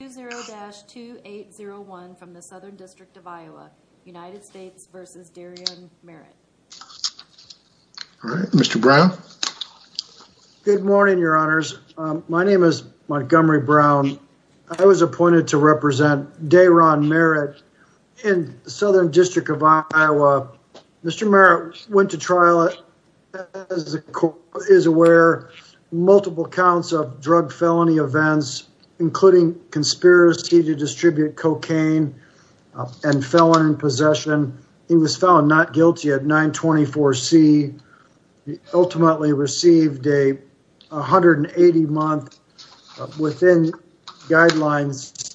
All right, Mr. Brown. Good morning, your honors. My name is Montgomery Brown. I was appointed to represent Daeron Merritt in the Southern District of Iowa. Mr. Merritt went to trial as the court is aware, multiple counts of drug felony events, including conspiracy to distribute cocaine and felon possession. He was found not guilty at 924 C. He ultimately received a 180 month within guidelines.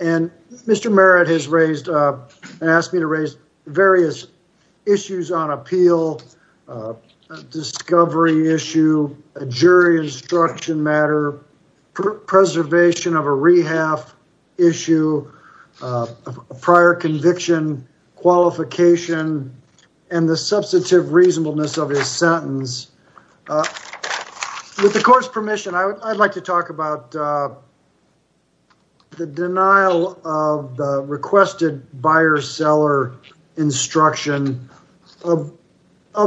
Mr. Merritt has asked me to raise various issues on appeal, discovery issue, jury instruction matter, preservation of a rehab issue, prior conviction, qualification, and the substantive reasonableness of his sentence. With the court's permission, I'd like to talk about the denial of the requested buyer-seller instruction of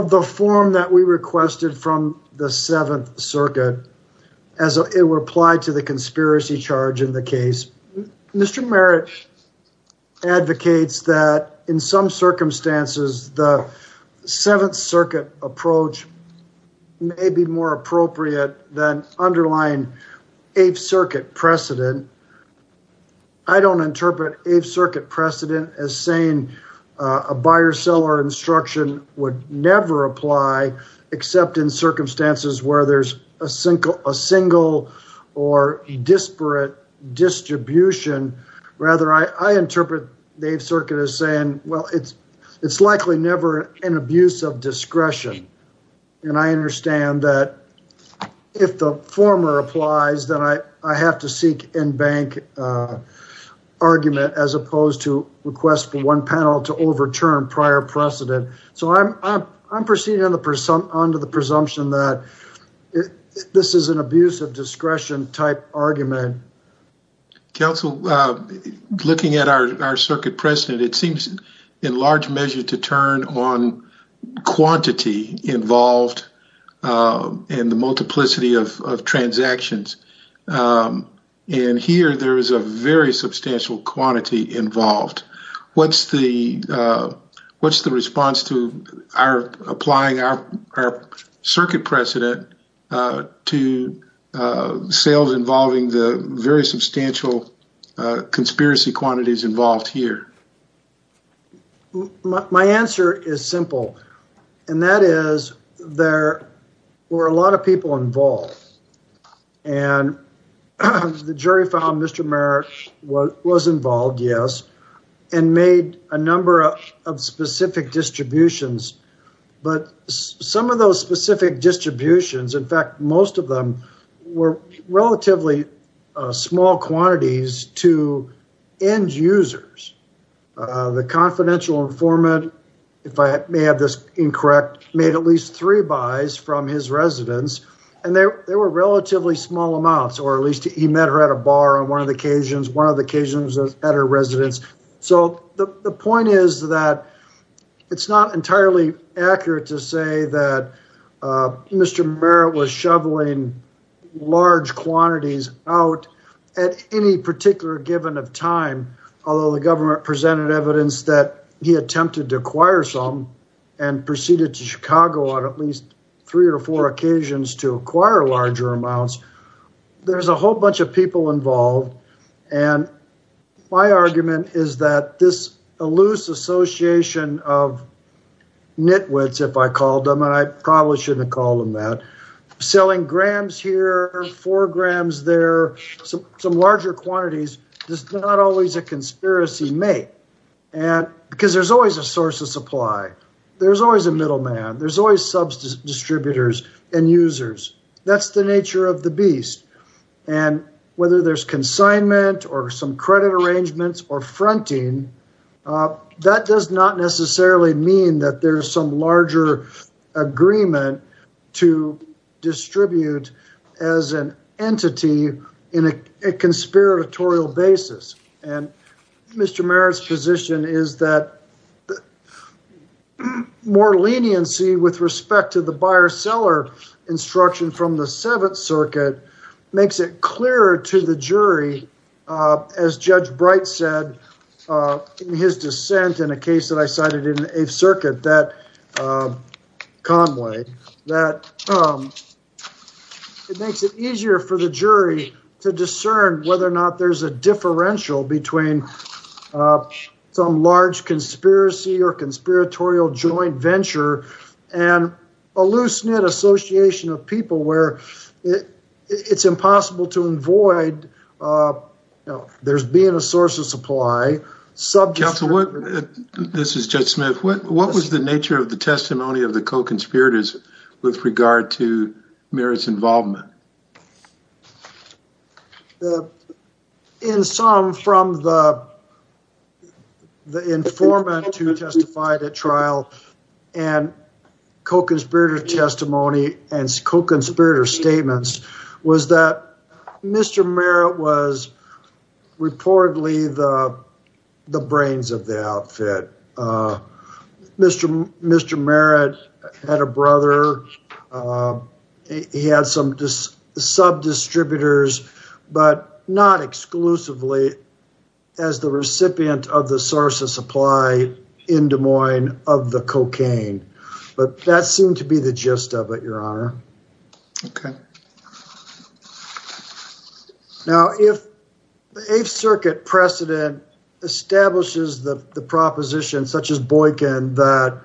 the form that we requested from the Seventh Circuit as it were applied to the conspiracy charge in the case. Mr. Merritt advocates that in some circumstances, the may be more appropriate than underlying Eighth Circuit precedent. I don't interpret Eighth Circuit precedent as saying a buyer-seller instruction would never apply except in circumstances where there's a single or disparate distribution. Rather, I interpret the Eighth Circuit precedent as saying that if the former applies, then I have to seek in-bank argument as opposed to request for one panel to overturn prior precedent. I'm proceeding onto the presumption that this is an abuse of discretion type argument. Thank you. Counsel, looking at our circuit precedent, it seems in large measure to turn on quantity involved in the multiplicity of transactions. Here, there is a very substantial quantity involved. What's the response to our applying our circuit precedent to sales involving the very substantial conspiracy quantities involved here? My answer is simple. That is, there were a lot of people involved. The jury found Mr. Merritt was involved, yes, and made a number of specific distributions. But some of those specific distributions, in fact, most of them were relatively small quantities to end users. The confidential informant, if I may have this incorrect, made at least three buys from his residence. They were relatively small amounts, or at least he met her at a bar on one of the occasions, one of the occasions at her residence. The point is that it's not entirely accurate to say that Mr. Merritt was shoveling large quantities out at any particular given of time, although the government presented evidence that he attempted to acquire some and proceeded to Chicago on at least three or four occasions to acquire larger amounts. There's a whole bunch of people involved, and my argument is that this elusive association of nitwits, if I called them, and I probably shouldn't have called them that, selling grams here, four grams there, some larger quantities, is not always a conspiracy made, because there's always a source of supply. There's always a middleman. There's always sub-distributors and users. That's the nature of the beast, and whether there's consignment or some credit arrangements or fronting, that does not necessarily mean that there's some larger agreement to distribute as an entity in a conspiratorial basis, and Mr. Merritt's position is that more leniency with respect to the buyer-seller instruction from the Seventh Circuit makes it clearer to the jury, as Judge Bright said in his dissent in a case that I cited in Eighth Circuit, Conway, that it makes it easier for the jury to discern whether or not there's a differential between some large conspiracy or conspiratorial joint venture and a loose-knit association of people where it's impossible to avoid there being a source of supply. This is Judge Smith. What was the nature of the testimony of the co-conspirators with regard to Merritt's involvement? In sum, from the informant who testified at trial and co-conspirator testimony and co-conspirator statements was that Mr. Merritt was reportedly the brains of the outfit. Mr. Merritt had a brother. He had some sub-distributors, but not exclusively as the recipient of the source of supply in Des Moines of the cocaine, but that seemed to be the gist of it, Your Honor. Okay. Now, if the Eighth Circuit precedent establishes the proposition, such as Boykin, that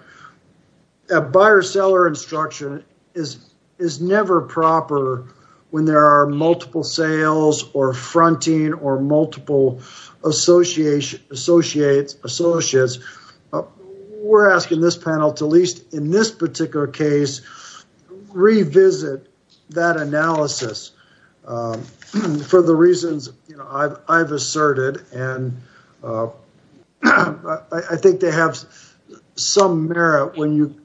a buyer-seller instruction is never proper when there are multiple sales or fronting or associates, we're asking this panel to, at least in this particular case, revisit that analysis for the reasons I've asserted. I think they have some merit when you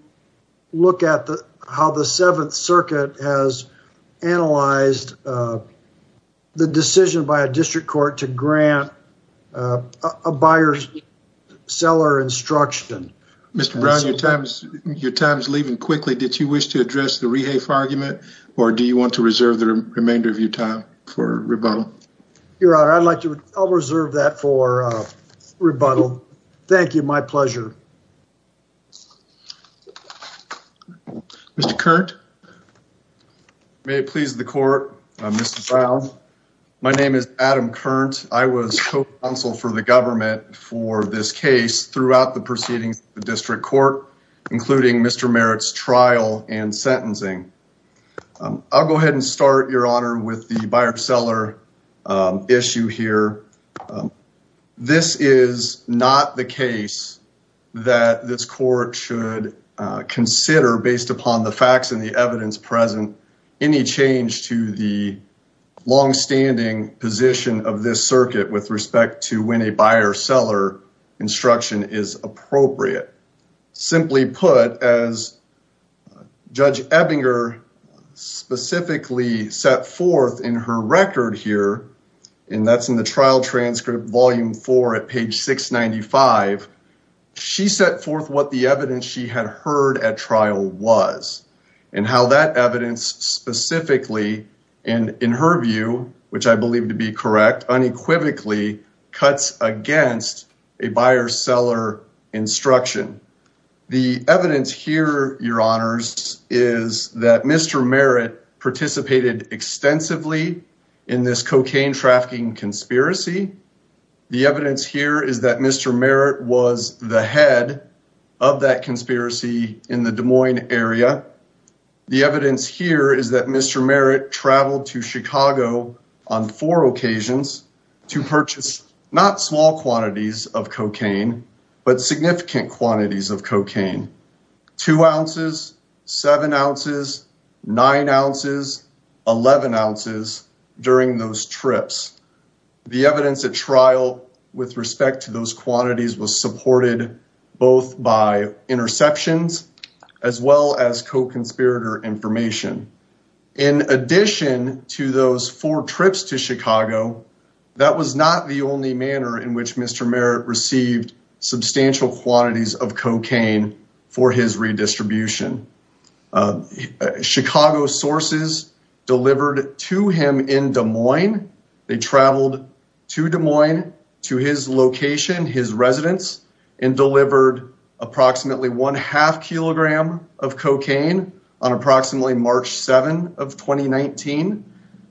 look at how the Seventh Circuit precedent establishes a buyer-seller instruction. Mr. Brown, your time is leaving quickly. Did you wish to address the rehafe argument, or do you want to reserve the remainder of your time for rebuttal? Your Honor, I'll reserve that for rebuttal. Thank you. My pleasure. Mr. Kearnt. May it please the Court, Mr. Brown. My name is Adam Kearnt. I was co-counsel for the government for this case throughout the proceedings of the District Court, including Mr. Merritt's trial and sentencing. I'll go ahead and start, Your Honor, with the buyer-seller issue here. This is not the case that this Court should consider based upon the facts and the evidence present. Any change to the long-standing position of this circuit with respect to when a buyer-seller instruction is appropriate, simply put, as Judge Ebinger specifically set forth in her record here, and that's in the trial transcript volume four at page 695, she set forth what the evidence she had heard at trial was and how that evidence specifically, and in her view, which I believe to be correct, unequivocally cuts against a buyer-seller instruction. The evidence here, Your Honors, is that Mr. Merritt participated extensively in this cocaine trafficking conspiracy. The evidence here is that Mr. Merritt was the head of that conspiracy in the Des Moines area. The evidence here is that Mr. Merritt traveled to Chicago on four occasions to purchase not small quantities of cocaine, but significant quantities of cocaine. Two ounces, seven ounces, nine ounces, 11 ounces during those trips. The evidence at trial with respect to those quantities was supported both by interceptions as well as co-conspirator information. In addition to those four trips to substantial quantities of cocaine for his redistribution, Chicago sources delivered to him in Des Moines. They traveled to Des Moines to his location, his residence, and delivered approximately one half kilogram of cocaine on approximately March 7 of 2019.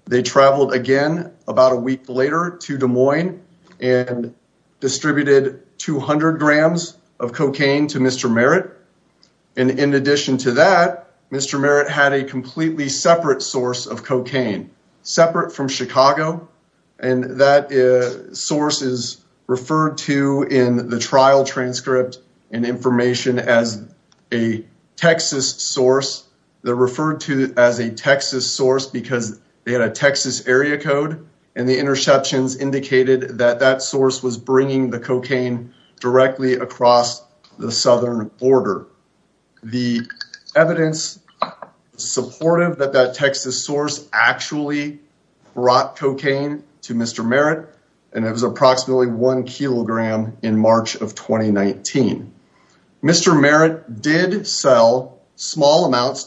They traveled again about a week later to Des Moines and distributed 200 grams of cocaine to Mr. Merritt. In addition to that, Mr. Merritt had a completely separate source of cocaine, separate from Chicago. That source is referred to in the trial transcript and information as a Texas source. They're referred to as a Texas source because they had a Texas area code and the interceptions indicated that that source was bringing the cocaine directly across the Southern border. The evidence supportive that that Texas source actually brought cocaine to Mr. Merritt and it to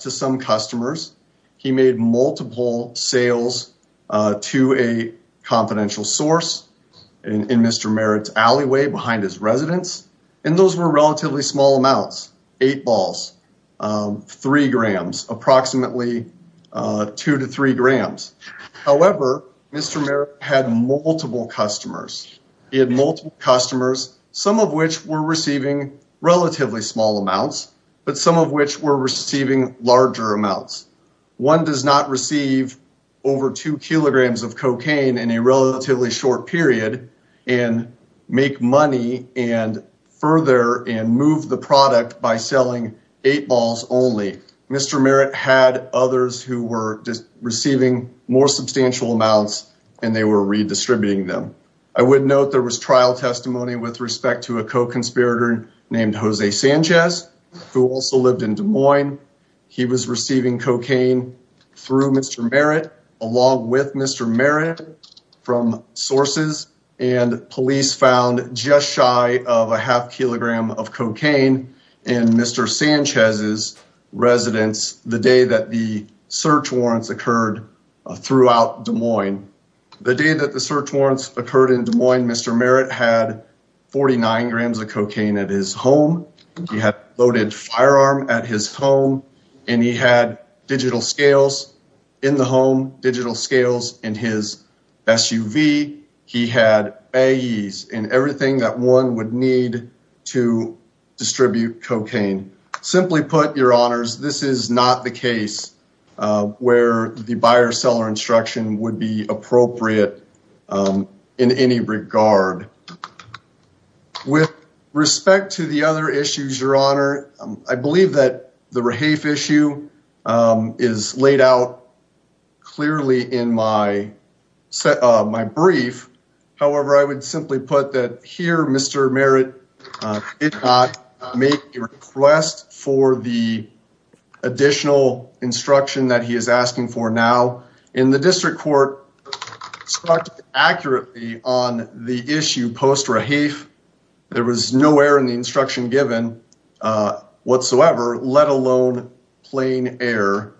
some customers. He made multiple sales to a confidential source in Mr. Merritt's alleyway behind his residence. And those were relatively small amounts, eight balls, three grams, approximately two to three grams. However, Mr. Merritt had multiple customers. He had multiple customers, some of which were receiving relatively small amounts, but some of which were receiving larger amounts. One does not receive over two kilograms of cocaine in a relatively short period and make money and further and move the product by selling eight balls only. Mr. Merritt had others who were just receiving more substantial amounts and they were redistributing them. I would note there was trial testimony with respect to a co-conspirator named Jose Sanchez, who also lived in Des Moines. He was receiving cocaine through Mr. Merritt, along with Mr. Merritt from sources and police found just shy of a half kilogram of cocaine in Mr. Sanchez's residence the day that the search warrants occurred throughout Des Moines. The day that the loaded firearm at his home and he had digital scales in the home, digital scales in his SUV. He had a ease in everything that one would need to distribute cocaine. Simply put your honors, this is not the case where the buyer seller instruction would be appropriate in any regard. With respect to the other issues, your honor, I believe that the rehafe issue is laid out clearly in my set of my brief. However, I would simply put that here, Mr. Merritt did not make a request for the additional instruction that he is asking for now in the district court. It struck accurately on the issue post-rehafe. There was no error in the instruction given whatsoever, let alone plain error.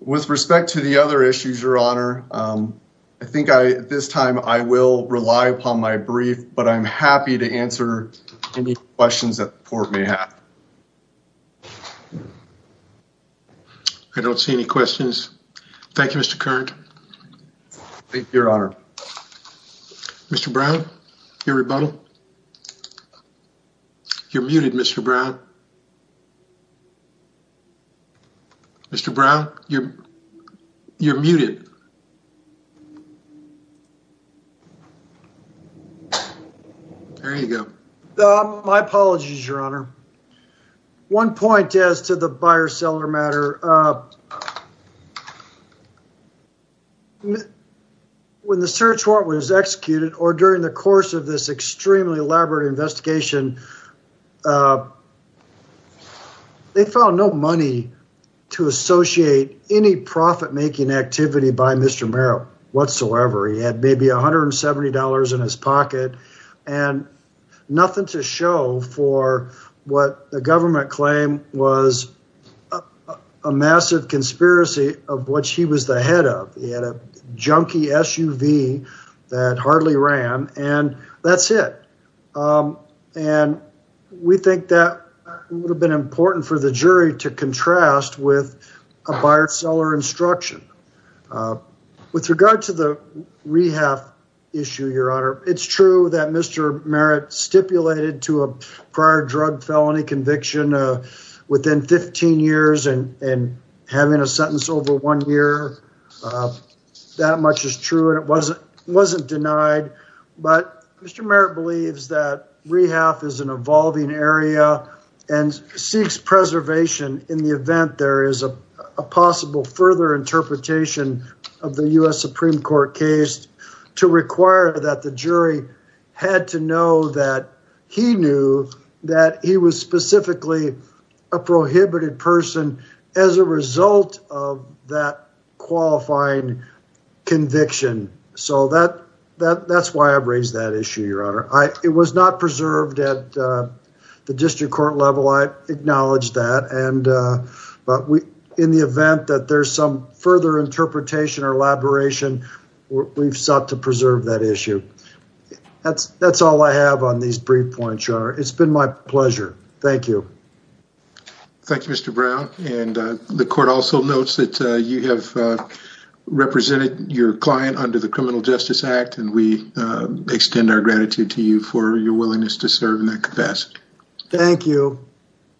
With respect to the other issues, your honor, I think this time I will rely upon my brief, but I'm happy to answer any questions that the court may have. I don't see any questions. Thank you, Mr. Current. Thank you, your honor. Mr. Brown, your rebuttal. You're muted, Mr. Brown. Mr. Brown, you're muted. There you go. My apologies, your honor. One point as to the buyer-seller matter, when the search warrant was executed or during the course of this extremely elaborate investigation, they found no money to associate any profit-making activity with the buyer-seller matter. Nothing to show for what the government claimed was a massive conspiracy of what he was the head of. He had a junky SUV that hardly ran, and that's it. We think that would have been important for the jury to contrast with a buyer-seller instruction. With regard to the rehab issue, your honor, it's true that Mr. Merritt stipulated to a prior drug felony conviction within 15 years and having a sentence over one year. That much is true, and it wasn't denied, but Mr. Merritt believes that rehab is an evolving area and seeks preservation in the event there is a possible further interpretation of the U.S. Supreme Court case to require that the jury had to know that he knew that he was specifically a prohibited person as a result of that qualifying conviction. So that's why I've raised that issue, your honor. It was not preserved at the district court level, I acknowledge that, but in the event that there's some further interpretation or elaboration, we've sought to preserve that issue. That's all I have on these brief points, your honor. It's been my pleasure. Thank you. Thank you, Mr. Brown. The court also notes that you have your client under the Criminal Justice Act, and we extend our gratitude to you for your willingness to serve in that capacity. Thank you.